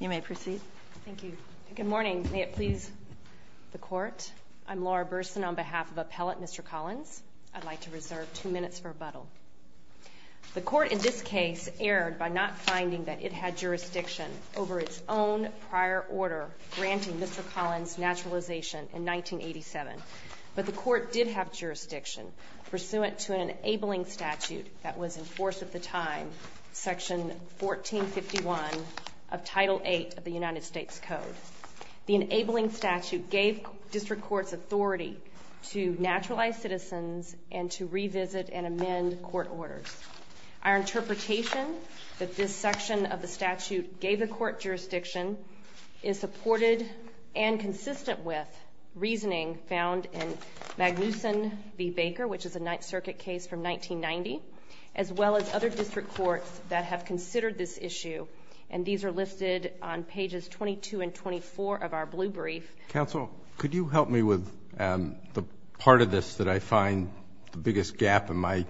You may proceed. Thank you. Good morning. May it please the court. I'm Laura Burson on behalf of Appellate Mr. Collins. I'd like to reserve two minutes for rebuttal. The court in this case erred by not finding that it had jurisdiction over its own prior order granting Mr. Collins naturalization in 1987. But the court did have jurisdiction pursuant to an enabling statute that was in force at the time, Section 1451 of Title VIII of the United States Code. The enabling statute gave district courts authority to naturalize citizens and to revisit and amend court orders. Our interpretation that this section of the statute gave the court jurisdiction is supported and consistent with reasoning found in Magnuson v. Baker, which is a Ninth Circuit case from 1990, as well as other district courts that have considered this issue. And these are listed on pages 22 and 24 of our blue brief. Counsel, could you help me with the part of this that I find the biggest gap in my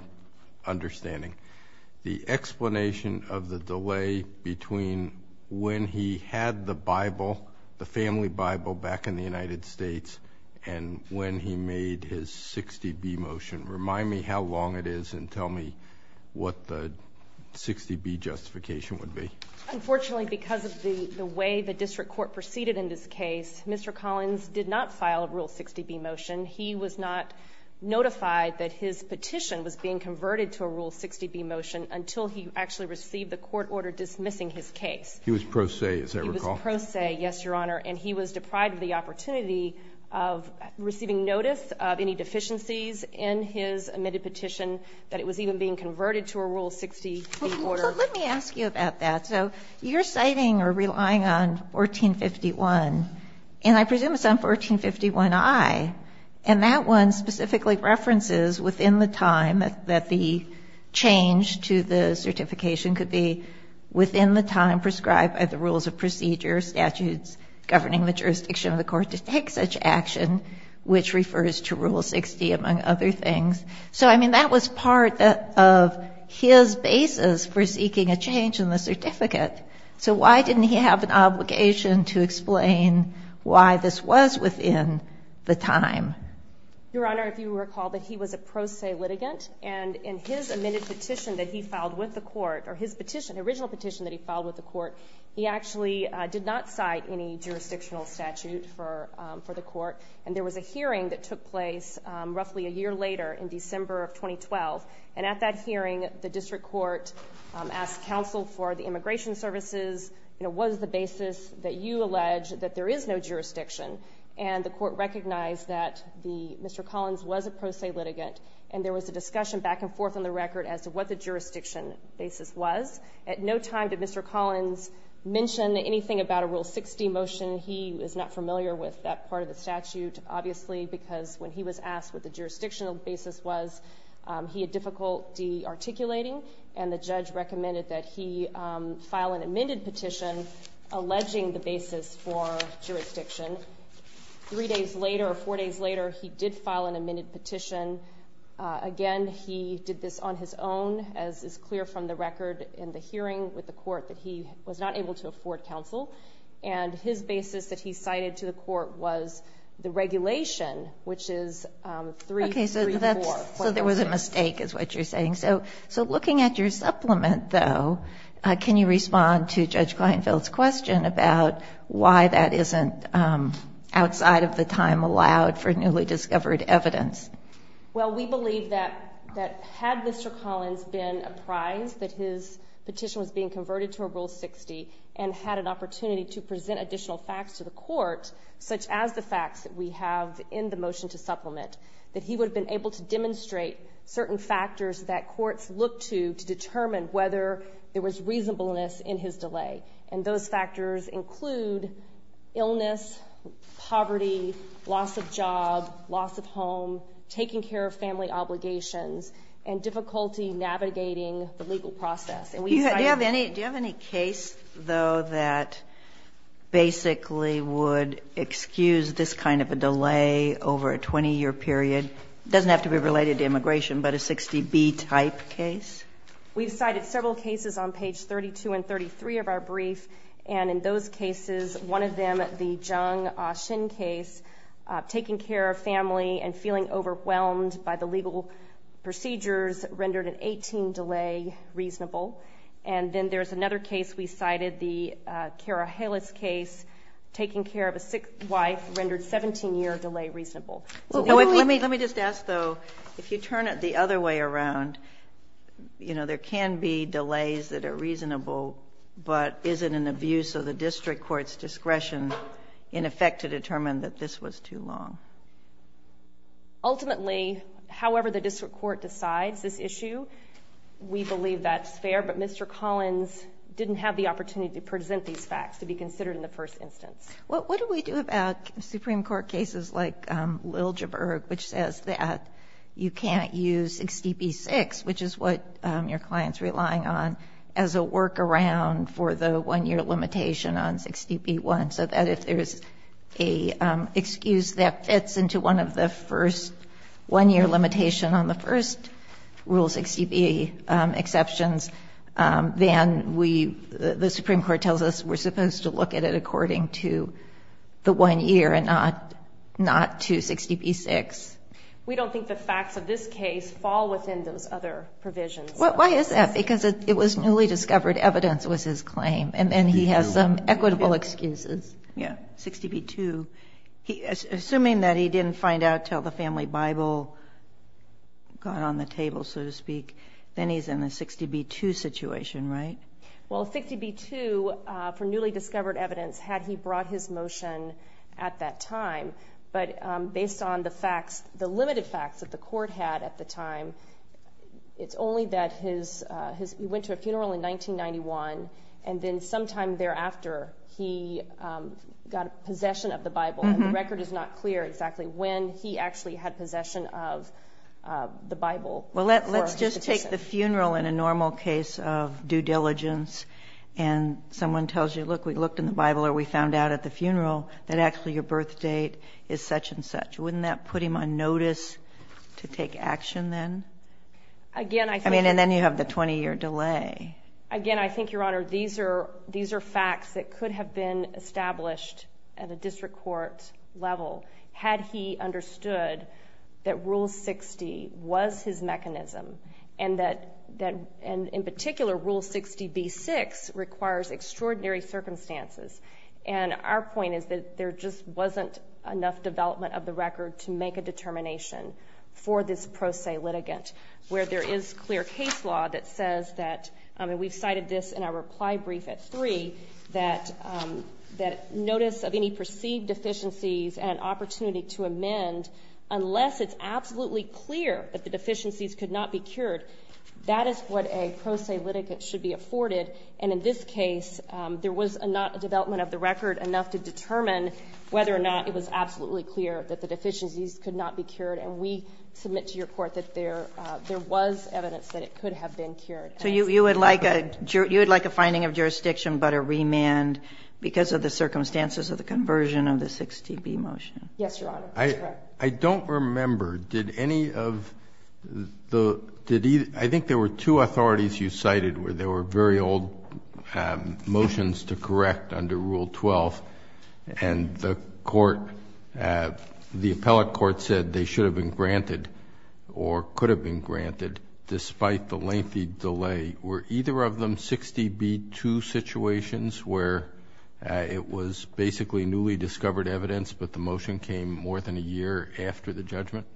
understanding? The explanation of the delay between when he had the Bible, the family Bible, back in the United States, and when he made his 60B motion. Remind me how long it is and tell me what the 60B justification would be. Unfortunately, because of the way the district court proceeded in this case, Mr. Collins did not file a Rule 60B motion. He was not notified that his petition was being converted to a Rule 60B motion until he actually received the court order dismissing his case. He was pro se, as I recall. He was pro se, yes, Your Honor, on the opportunity of receiving notice of any deficiencies in his admitted petition that it was even being converted to a Rule 60B order. Let me ask you about that. So you're citing or relying on 1451, and I presume it's on 1451I. And that one specifically references within the time that the change to the certification could be within the time prescribed by the rules of procedure, statutes governing the court to take such action, which refers to Rule 60, among other things. So, I mean, that was part of his basis for seeking a change in the certificate. So why didn't he have an obligation to explain why this was within the time? Your Honor, if you recall that he was a pro se litigant, and in his admitted petition that he filed with the court, or his petition, original petition that he filed with the court, he actually did not cite any jurisdictional statute for the court. And there was a hearing that took place roughly a year later, in December of 2012. And at that hearing, the District Court asked counsel for the Immigration Services, you know, what is the basis that you allege that there is no jurisdiction? And the court recognized that Mr. Collins was a pro se litigant, and there was a discussion back and forth on the record as to what the jurisdiction basis was. At no time did Mr. Collins mention anything about a Rule 60 motion. He was not familiar with that part of the statute, obviously, because when he was asked what the jurisdictional basis was, he had difficulty articulating, and the judge recommended that he file an amended petition alleging the basis for jurisdiction. Three days later, or four days later, he did this on his own, as is clear from the record in the hearing with the court, that he was not able to afford counsel. And his basis that he cited to the court was the regulation, which is 3-3-4. Okay, so there was a mistake, is what you're saying. So looking at your supplement, though, can you respond to Judge Kleinfeld's question about why that isn't outside of the time allowed for newly discovered evidence? Well, we believe that had Mr. Collins been apprised that his petition was being converted to a Rule 60 and had an opportunity to present additional facts to the court, such as the facts that we have in the motion to supplement, that he would have been able to demonstrate certain factors that courts look to to determine whether there was reasonableness in his delay. And those factors include illness, poverty, loss of job, loss of home, taking care of family obligations, and difficulty navigating the legal process. Do you have any case, though, that basically would excuse this kind of a delay over a 20-year period? It doesn't have to be related to immigration, but a 60B-type case? We've cited several cases on page 32 and 33 of our brief, and in those cases, the Ah Shin case, taking care of family and feeling overwhelmed by the legal procedures, rendered an 18-year delay reasonable. And then there's another case we cited, the Kara Haylis case, taking care of a sick wife, rendered a 17-year delay reasonable. Let me just ask, though, if you turn it the other way around, you know, there can be delays that are reasonable, but is it an abuse of the district court's discretion, in effect, to determine that this was too long? Ultimately, however the district court decides this issue, we believe that's fair, but Mr. Collins didn't have the opportunity to present these facts to be considered in the first instance. What do we do about Supreme Court cases like Liljeburg, which says that you can't use 60B-6, which is what your client's relying on, as a workaround for the one-year limitation on 60B-1, so that if there's an excuse that fits into one of the first one-year limitations on the first Rule 60B exceptions, then the Supreme Court tells us we're supposed to look at it according to the one year and not to 60B-6? We don't think the facts of this case fall within those other provisions. Why is that? Because it was newly discovered evidence was his claim, and then he has some equitable excuses. Yeah, 60B-2. Assuming that he didn't find out until the family Bible got on the table, so to speak, then he's in a 60B-2 situation, right? Well, 60B-2, for newly discovered evidence, had he brought his motion at that time. But based on the facts, the limited facts that the court had at the time, it's only that he went to a funeral in 1991, and then sometime thereafter he got possession of the Bible. The record is not clear exactly when he actually had possession of the Bible. Well, let's just take the funeral in a normal case of due diligence, and someone tells you, look, we looked in the Bible, or we found out at the funeral that actually your birth date is such and such. Wouldn't that put him on notice to take action then? Again, I think... I mean, and then you have the 20-year delay. Again, I think, Your Honor, these are facts that could have been established at a district court level had he understood that Rule 60 was his mechanism, and that, in particular, Rule 60B-6 requires extraordinary circumstances. And our point is that there just wasn't enough development of the record to make a determination for this pro se litigant, where there is clear case law that says that, and we've cited this in our reply brief at three, that notice of any perceived deficiencies and opportunity to amend, unless it's absolutely clear that the deficiencies could not be cured, that is what a pro se litigant should be afforded. And in this case, there was not a development of the record enough to determine whether or not it was absolutely clear that the deficiencies could not be cured. And we submit to your Court that there was evidence that it could have been cured. And it's the record. So you would like a finding of jurisdiction, but a remand because of the circumstances of the conversion of the 60B motion? Yes, Your Honor. I don't remember, did any of the, did either, I think there were two authorities you cited where there were very old motions to correct under Rule 12, and the court, the appellate court said they should have been granted, or could have been granted, despite the lengthy delay. Were either of them 60B-2 situations where it was basically newly discovered evidence, but the motion came more than a year after the judgment?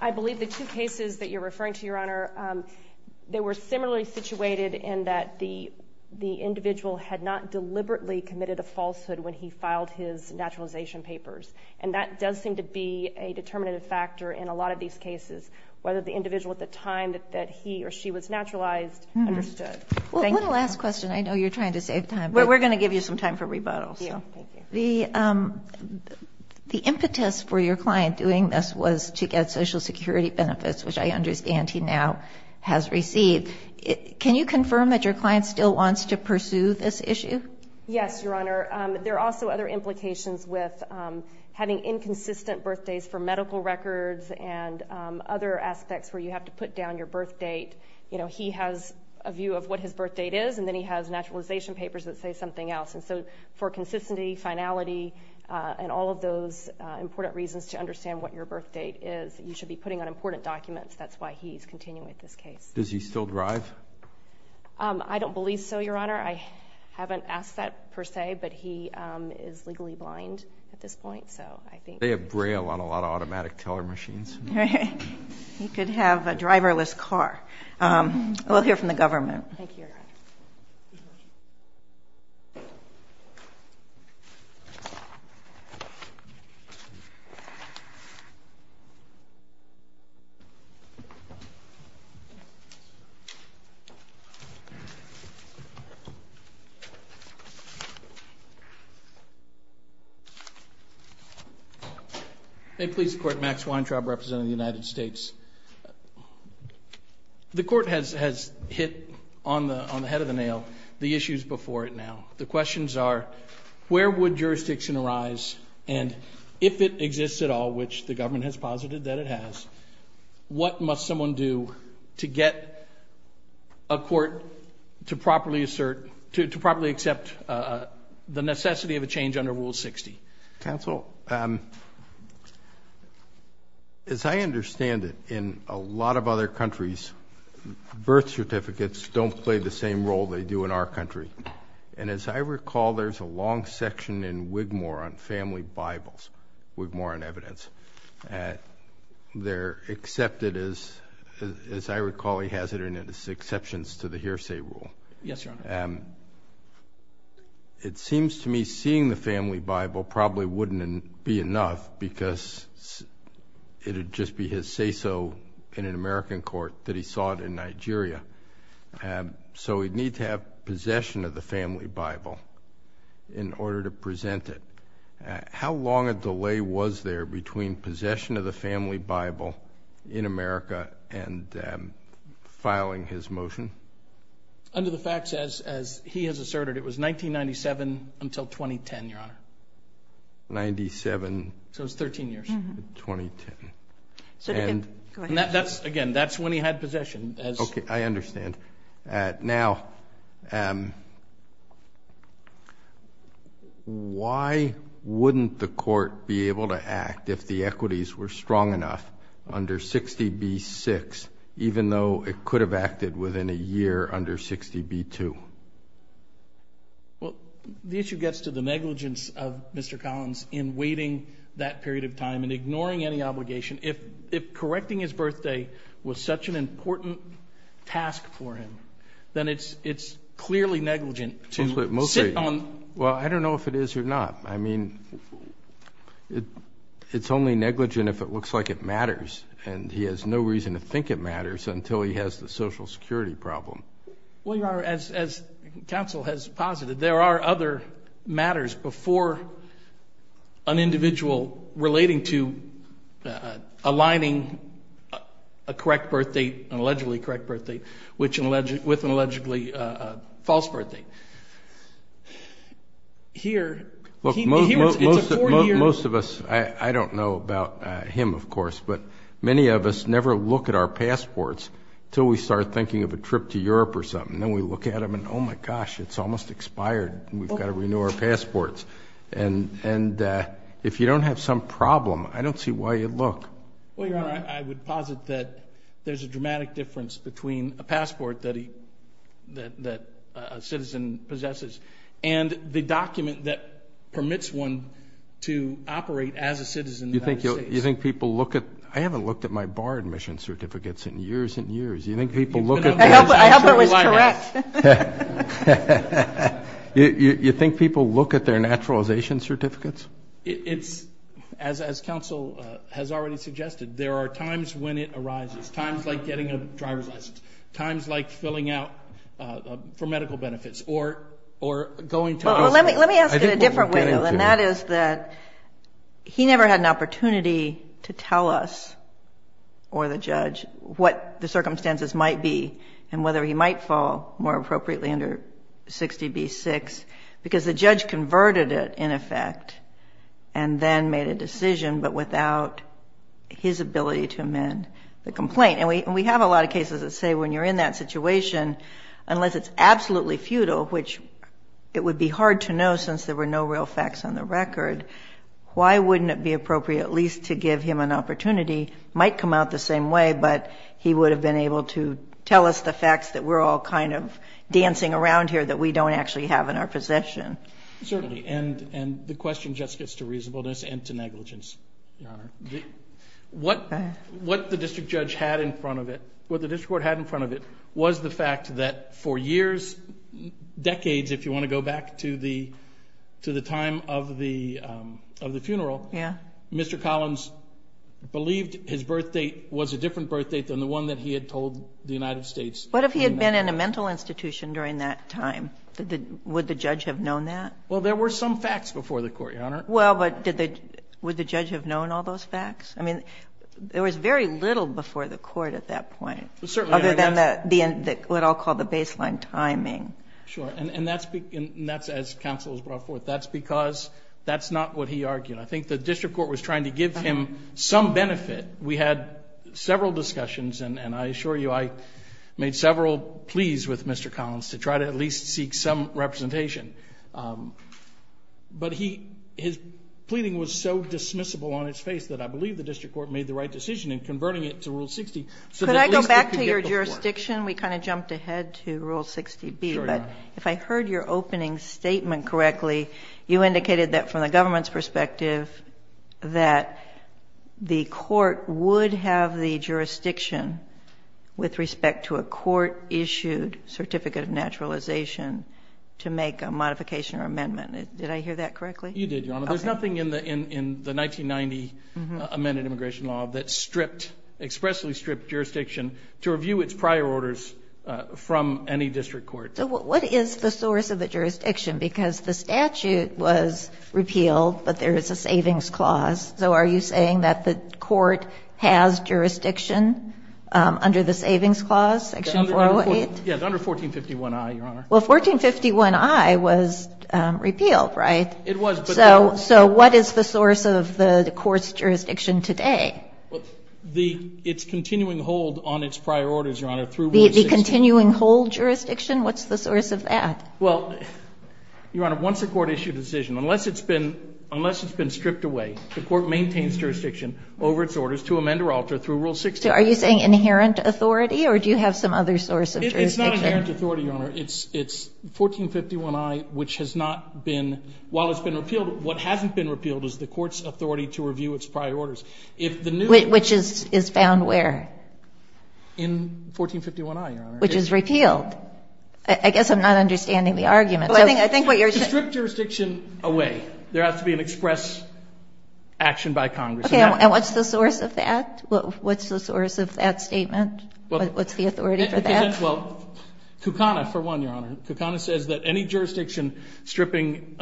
I believe the two cases that you're referring to, Your Honor, they were similarly situated in that the individual had not deliberately committed a falsehood when he filed his naturalization papers. And that does seem to be a determinative factor in a lot of these cases, whether the individual at the time that he or she was naturalized understood. Thank you. One last question. I know you're trying to save time. We're going to give you some time for rebuttals. The impetus for your client doing this was to get Social Security benefits, which I understand he now has received. Can you confirm that your client still wants to pursue this issue? Yes, Your Honor. There are also other implications with having inconsistent birthdays for medical records and other aspects where you have to put down your birth date. You know, he has a view of what his birth date is, and then he has naturalization papers that say something else. And so for consistency, finality, and all of those important reasons to understand what your birth date is, you should be putting on important documents. That's why he's continuing with this case. Does he still drive? I don't believe so, Your Honor. I haven't asked that, per se, but he is legally blind at this point. So I think... They have Braille on a lot of automatic teller machines. He could have a driverless car. We'll hear from the government. May it please the Court, Max Weintraub, Representative of the United States. The Court has hit on where would jurisdiction arise, and if it exists at all, which the government has posited that it has, what must someone do to get a court to properly assert, to properly accept the necessity of a change under Rule 60? Counsel, as I understand it, in a lot of other countries, birth certificates don't play the same role they do in our country. And as I recall, there's a long section in Wigmore on family Bibles, Wigmore and evidence. They're accepted, as I recall, he has it in his exceptions to the hearsay rule. Yes, Your Honor. It seems to me seeing the family Bible probably wouldn't be enough because it would just be his say-so in an American court that he sought in Nigeria. So we'd need to have possession of the family Bible in order to present it. How long a delay was there between possession of the family Bible in America and filing his motion? Under the facts, as he has asserted, it was 1997 until 2010, Your Honor. Ninety-seven... So it was 13 years. ...until March 2010. So again, go ahead. And that's, again, that's when he had possession as... Okay, I understand. Now, why wouldn't the court be able to act if the equities were strong enough under 60b-6, even though it could have acted within a year under 60b-2? Well, the issue gets to the negligence of Mr. Collins in waiting that period of time and ignoring any obligation. If correcting his birthday was such an important task for him, then it's clearly negligent to sit on... Well, I don't know if it is or not. I mean, it's only negligent if it looks like it matters, and he has no reason to think it matters until he has the Social Security problem. Well, Your Honor, as counsel has posited, there are other matters before an individual relating to aligning a correct birthday, an allegedly correct birthday, with an allegedly a false birthday. Here, it's a four-year... Look, most of us, I don't know about him, of course, but many of us never look at our birth or something. Then we look at them and, oh, my gosh, it's almost expired. We've got to renew our passports. And if you don't have some problem, I don't see why you'd look. Well, Your Honor, I would posit that there's a dramatic difference between a passport that a citizen possesses and the document that permits one to operate as a citizen in the United States. You think people look at... I haven't looked at my bar admission certificates in years and years. You think people look at... I hope it was correct. You think people look at their naturalization certificates? It's, as counsel has already suggested, there are times when it arises, times like getting a driver's license, times like filling out for medical benefits, or going to... Well, let me ask it a different way, though, and that is that he never had an opportunity to tell us or the judge what the circumstances might be and whether he might fall more appropriately under 60B-6, because the judge converted it, in effect, and then made a decision, but without his ability to amend the complaint. And we have a lot of cases that say when you're in that situation, unless it's absolutely futile, which it would be hard to know since there were no real facts on the record, why wouldn't it be appropriate at least to give him an opportunity? Might come out the same way, but he would have been able to tell us the facts that we're all kind of dancing around here that we don't actually have in our possession. Certainly. And the question just gets to reasonableness and to negligence, Your Honor. What the district judge had in front of it, what the district court had in front of it, was the fact that for years, decades, if you want to go back to the time of the funeral, Mr. Collins believed his birth date was a different birth date than the one that he had told the United States. What if he had been in a mental institution during that time? Would the judge have known that? Well, there were some facts before the court, Your Honor. Well, but did the – would the judge have known all those facts? I mean, there was very little before the court at that point. Well, certainly. Other than the – what I'll call the baseline timing. Sure. And that's – and that's as counsel has brought forth. That's because that's not what he argued. I think the district court was trying to give him some benefit. We had several discussions, and I assure you I made several pleas with Mr. Collins to try to at least seek some representation. But he – his pleading was so dismissible on its face that I believe the district court made the right decision in converting it to Rule 60 so that at least it could get the court. Can I go back to your jurisdiction? We kind of jumped ahead to Rule 60b, but if I heard your opening statement correctly, you indicated that from the government's perspective that the court would have the jurisdiction with respect to a court-issued certificate of naturalization to make a modification or amendment. Did I hear that correctly? You did, Your Honor. Okay. There's nothing in the – in the 1990 amended immigration law that stripped – expressly stripped jurisdiction to review its prior orders from any district court. So what is the source of the jurisdiction? Because the statute was repealed, but there is a savings clause. So are you saying that the court has jurisdiction under the savings clause, Section 408? Yes, under 1451i, Your Honor. Well, 1451i was repealed, right? It was, but the – So what is the source of the court's jurisdiction today? The – it's continuing hold on its prior orders, Your Honor, through Rule 60. The continuing hold jurisdiction? What's the source of that? Well, Your Honor, once a court-issued decision, unless it's been – unless it's been stripped away, the court maintains jurisdiction over its orders to amend or alter through Rule 60. So are you saying inherent authority, or do you have some other source of jurisdiction? It's not inherent authority, Your Honor. It's – it's 1451i, which has not been – while it's been repealed, what hasn't been repealed is the court's authority to review its prior orders. If the new – Which is found where? In 1451i, Your Honor. Which is repealed. I guess I'm not understanding the argument. So I think what you're saying – To strip jurisdiction away, there has to be an express action by Congress. Okay. And what's the source of that? What's the source of that statement? What's the authority for that? Well, Kucana, for one, Your Honor, Kucana says that any jurisdiction stripping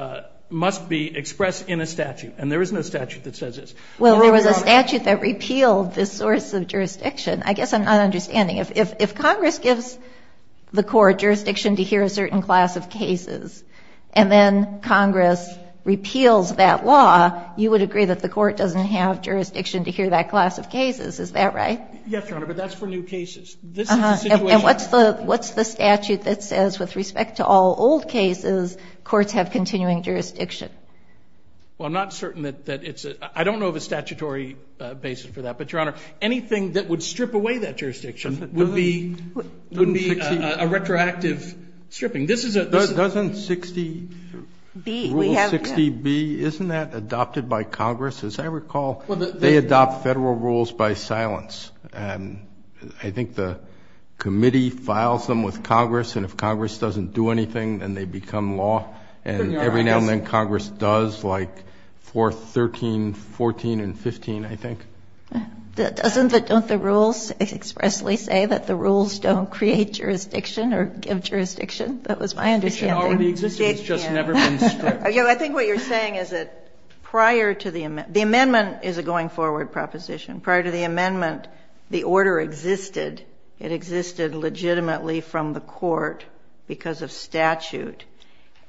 must be expressed in a statute, and there is no statute that says this. Well, there was a statute that repealed this source of jurisdiction. I guess I'm not understanding. If Congress gives the court jurisdiction to hear a certain class of cases, and then Congress repeals that law, you would agree that the court doesn't have jurisdiction to hear that class of cases, is that right? Yes, Your Honor, but that's for new cases. This is the situation – And what's the – what's the statute that says with respect to all old cases, courts have continuing jurisdiction? Well, I'm not certain that it's a – I don't know of a statutory basis for that, but, Your Honor, anything that would strip away that jurisdiction would be a retroactive stripping. This is a – Doesn't 60B, rule 60B, isn't that adopted by Congress? As I recall, they adopt Federal rules by silence, and I think the committee files them with Congress, and if Congress doesn't do anything, then they become law, and every now and then Congress does, like 4, 13, 14, and 15, I think. Doesn't the – don't the rules expressly say that the rules don't create jurisdiction or give jurisdiction? That was my understanding. It should already exist. It's just never been stripped. I think what you're saying is that prior to the – the amendment is a going-forward proposition. Prior to the amendment, the order existed. It existed legitimately from the court because of statute,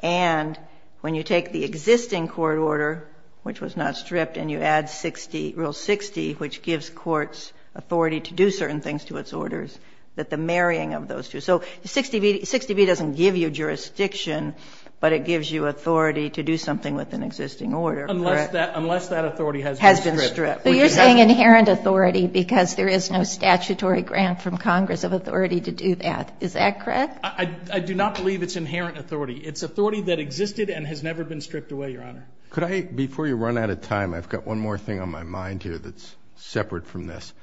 and when you take the existing court order, which was not stripped, and you add 60 – rule 60, which gives courts authority to do certain things to its orders, that the marrying of those two – so 60B – 60B doesn't give you jurisdiction, but it gives you authority to do something with an existing order. Unless that – unless that authority has been stripped. Has been stripped. So you're saying inherent authority because there is no statutory grant from Congress of authority to do that. Is that correct? I do not believe it's inherent authority. It's authority that existed and has never been stripped away, Your Honor. Could I – before you run out of time, I've got one more thing on my mind here that's separate from this.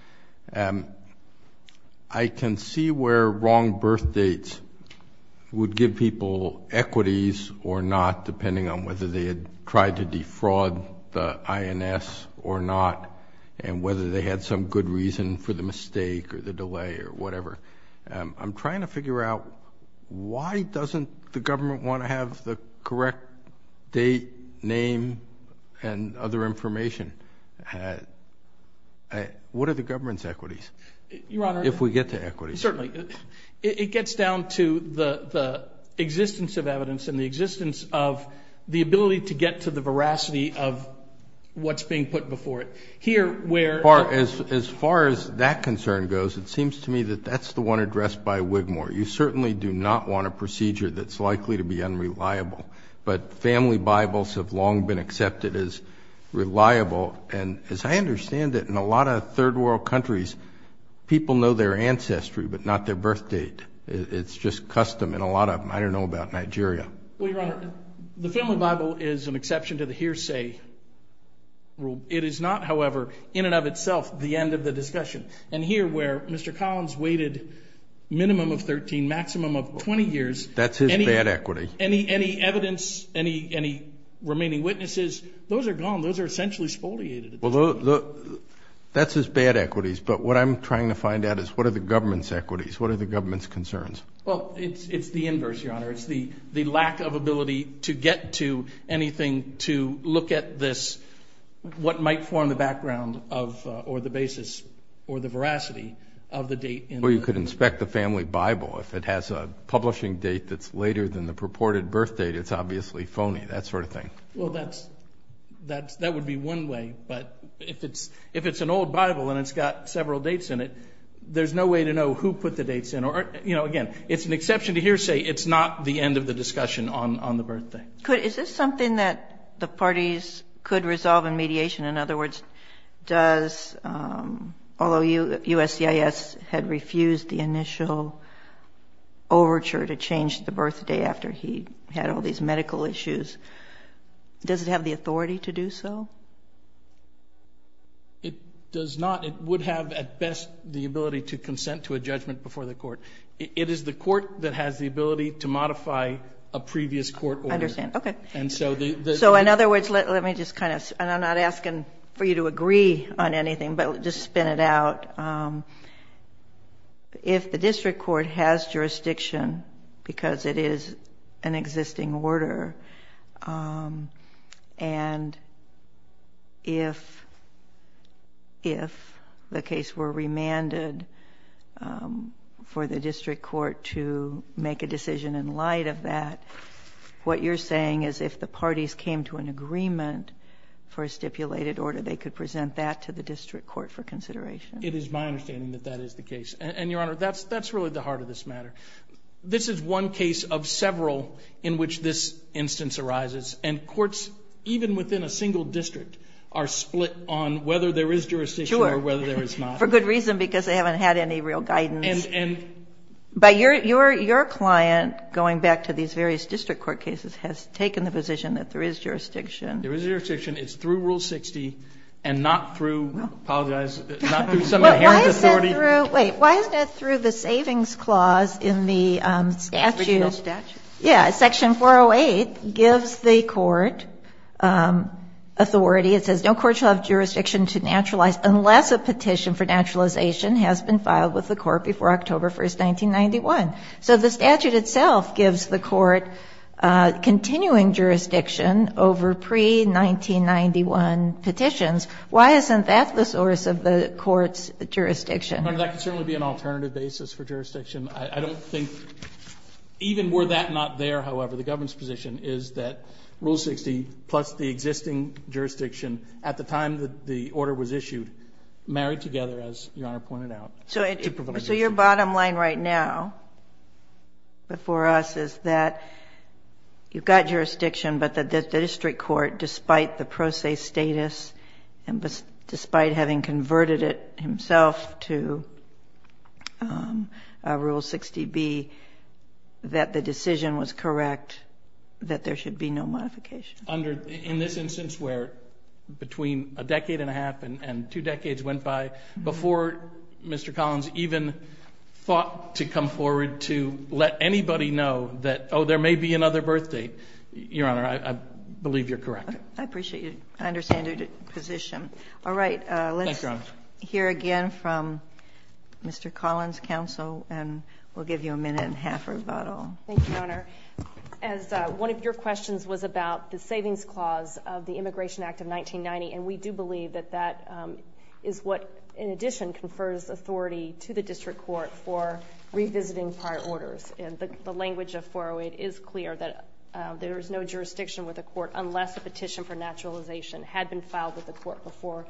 I can see where wrong birth dates would give people equities or not, depending on whether they had tried to defraud the INS or not, and whether they had some good reason for the mistake or the delay or whatever. I'm trying to figure out why doesn't the government want to have the correct date, name, and other information? What are the government's equities? Your Honor – If we get to equities. Certainly. It gets down to the existence of evidence and the existence of the ability to get to the veracity of what's being put before it. Here, where – As far as that concern goes, it seems to me that that's the one addressed by Wigmore. You certainly do not want a procedure that's likely to be unreliable. But family Bibles have long been accepted as reliable. And as I understand it, in a lot of third world countries, people know their ancestry, but not their birth date. It's just custom in a lot of them. I don't know about Nigeria. Well, Your Honor, the family Bible is an exception to the hearsay rule. It is not, however, in and of itself, the end of the discussion. And here, where Mr. Collins waited minimum of 13, maximum of 20 years – That's his bad equity. Any evidence, any remaining witnesses, those are gone. Those are essentially spoliated. Well, that's his bad equities. But what I'm trying to find out is what are the government's equities? What are the government's concerns? Well, it's the inverse, Your Honor. It's the lack of ability to get to anything to might form the background of or the basis or the veracity of the date in the – Well, you could inspect the family Bible. If it has a publishing date that's later than the purported birth date, it's obviously phony, that sort of thing. Well, that would be one way. But if it's an old Bible and it's got several dates in it, there's no way to know who put the dates in. Or, you know, again, it's an exception to hearsay. It's not the end of the discussion on the birth date. Is this something that the parties could resolve in mediation? In other words, does – although USCIS had refused the initial overture to change the birth date after he had all these medical issues, does it have the authority to do so? It does not. It would have, at best, the ability to consent to a judgment before the court. It is the court that has the ability to modify a previous court order. I understand. Okay. So, in other words, let me just kind of – and I'm not asking for you to agree on anything, but just spin it out. If the district court has jurisdiction because it is an existing order, and if the case were remanded for the district court to make a decision in light of that, what you're saying is if the parties came to an agreement for a stipulated order, they could present that to the district court for consideration? It is my understanding that that is the case. And, Your Honor, that's really the heart of this matter. This is one case of several in which this instance arises. And courts, even within a single district, are split on whether there is jurisdiction or whether there is not. Sure. For good reason, because they haven't had any real guidance. And – But your client, going back to these various district court cases, has taken the position that there is jurisdiction. There is jurisdiction. It's through Rule 60 and not through – apologize – not through some inherent authority. But why is it through – wait. Why isn't it through the Savings Clause in the statute? Statute? Yeah. Section 408 gives the court authority. It says, no court shall have jurisdiction to naturalize unless a petition for naturalization has been filed with the court before October 1, 1991. So the statute itself gives the court continuing jurisdiction over pre-1991 petitions. Why isn't that the source of the court's jurisdiction? Your Honor, that could certainly be an alternative basis for jurisdiction. I don't think – even were that not there, however, the government's position is that Rule 60 plus the existing jurisdiction at the time that the order was issued married together, as Your Honor pointed out, to provide jurisdiction. So your bottom line right now before us is that you've got jurisdiction, but the district court, despite the pro se status and despite having converted it himself to Rule 60B, that the decision was correct, that there should be no modification. In this instance where between a decade and a half and two decades went by before Mr. Collins even thought to come forward to let anybody know that, oh, there may be another birth date, Your Honor, I believe you're correct. I appreciate it. I understand your position. All right, let's hear again from Mr. Collins' counsel and we'll give you a minute and a half rebuttal. Thank you, Your Honor. As one of your questions was about the savings clause of the Immigration Confers Authority to the district court for revisiting prior orders, and the language of 408 is clear that there is no jurisdiction with the court unless a petition for naturalization had been filed with the court before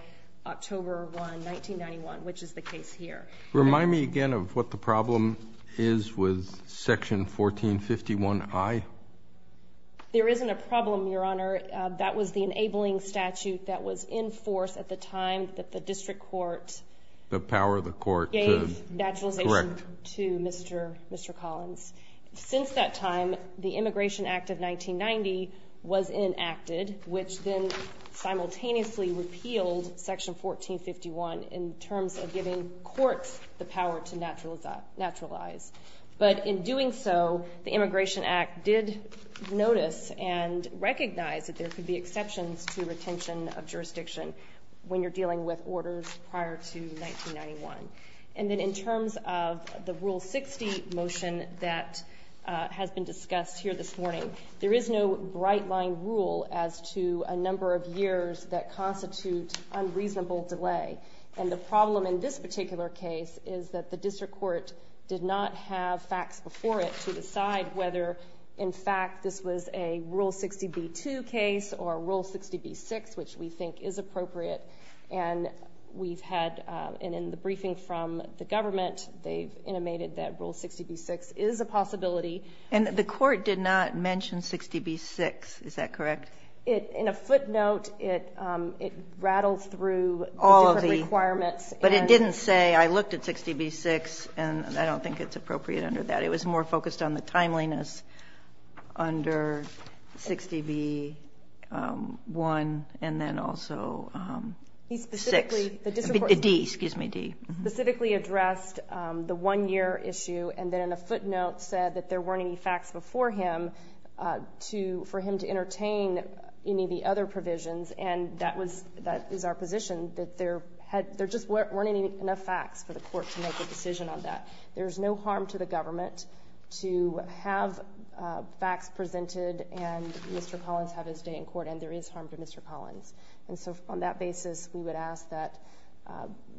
October 1, 1991, which is the case here. Remind me again of what the problem is with Section 1451I. There isn't a problem, Your Honor. That was the enabling statute that was in force at the time that the district court gave naturalization to Mr. Collins. Since that time, the Immigration Act of 1990 was enacted, which then simultaneously repealed Section 1451 in terms of giving courts the power to naturalize. But in doing so, the Immigration Act did notice and recognize that there could be exceptions to retention of jurisdiction when you're dealing with orders prior to 1991. And then in terms of the Rule 60 motion that has been discussed here this morning, there is no bright-line rule as to a number of years that constitute unreasonable delay. And the problem in this particular case is that the district court did not have facts before it to decide whether, in fact, this was a Rule 60b-2 case or a Rule 60b-6, which we think is appropriate. And we've had in the briefing from the government, they've intimated that Rule 60b-6 is a possibility. And the court did not mention 60b-6. Is that correct? In a footnote, it rattled through the different requirements. But it didn't say, I looked at 60b-6, and I don't think it's appropriate under that. It was more focused on the timeliness under 60b-1 and then also 6. He specifically, the district court specifically addressed the 1-year issue, and then in a footnote said that there weren't any facts before him to, for him to entertain any of the other provisions. And that is our position, that there just weren't enough facts for the court to make a decision on that. There's no harm to the government to have facts presented and Mr. Collins have his day in court, and there is harm to Mr. Collins. And so on that basis, we would ask that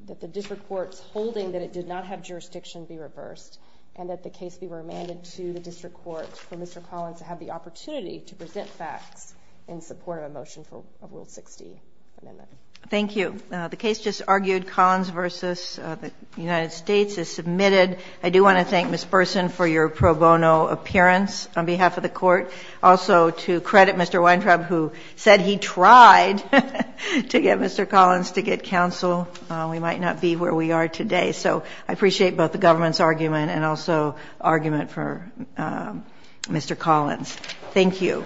the district court's holding that it did not have jurisdiction be reversed and that the case be remanded to the district court for Mr. Collins to have the opportunity to present facts in support of a motion for a Rule 60 amendment. Thank you. The case just argued, Collins v. The United States, is submitted. I do want to thank Ms. Burson for your pro bono appearance on behalf of the court. Also, to credit Mr. Weintraub, who said he tried to get Mr. Collins to get counsel. We might not be where we are today. So I appreciate both the government's argument and also argument for Mr. Collins. Thank you.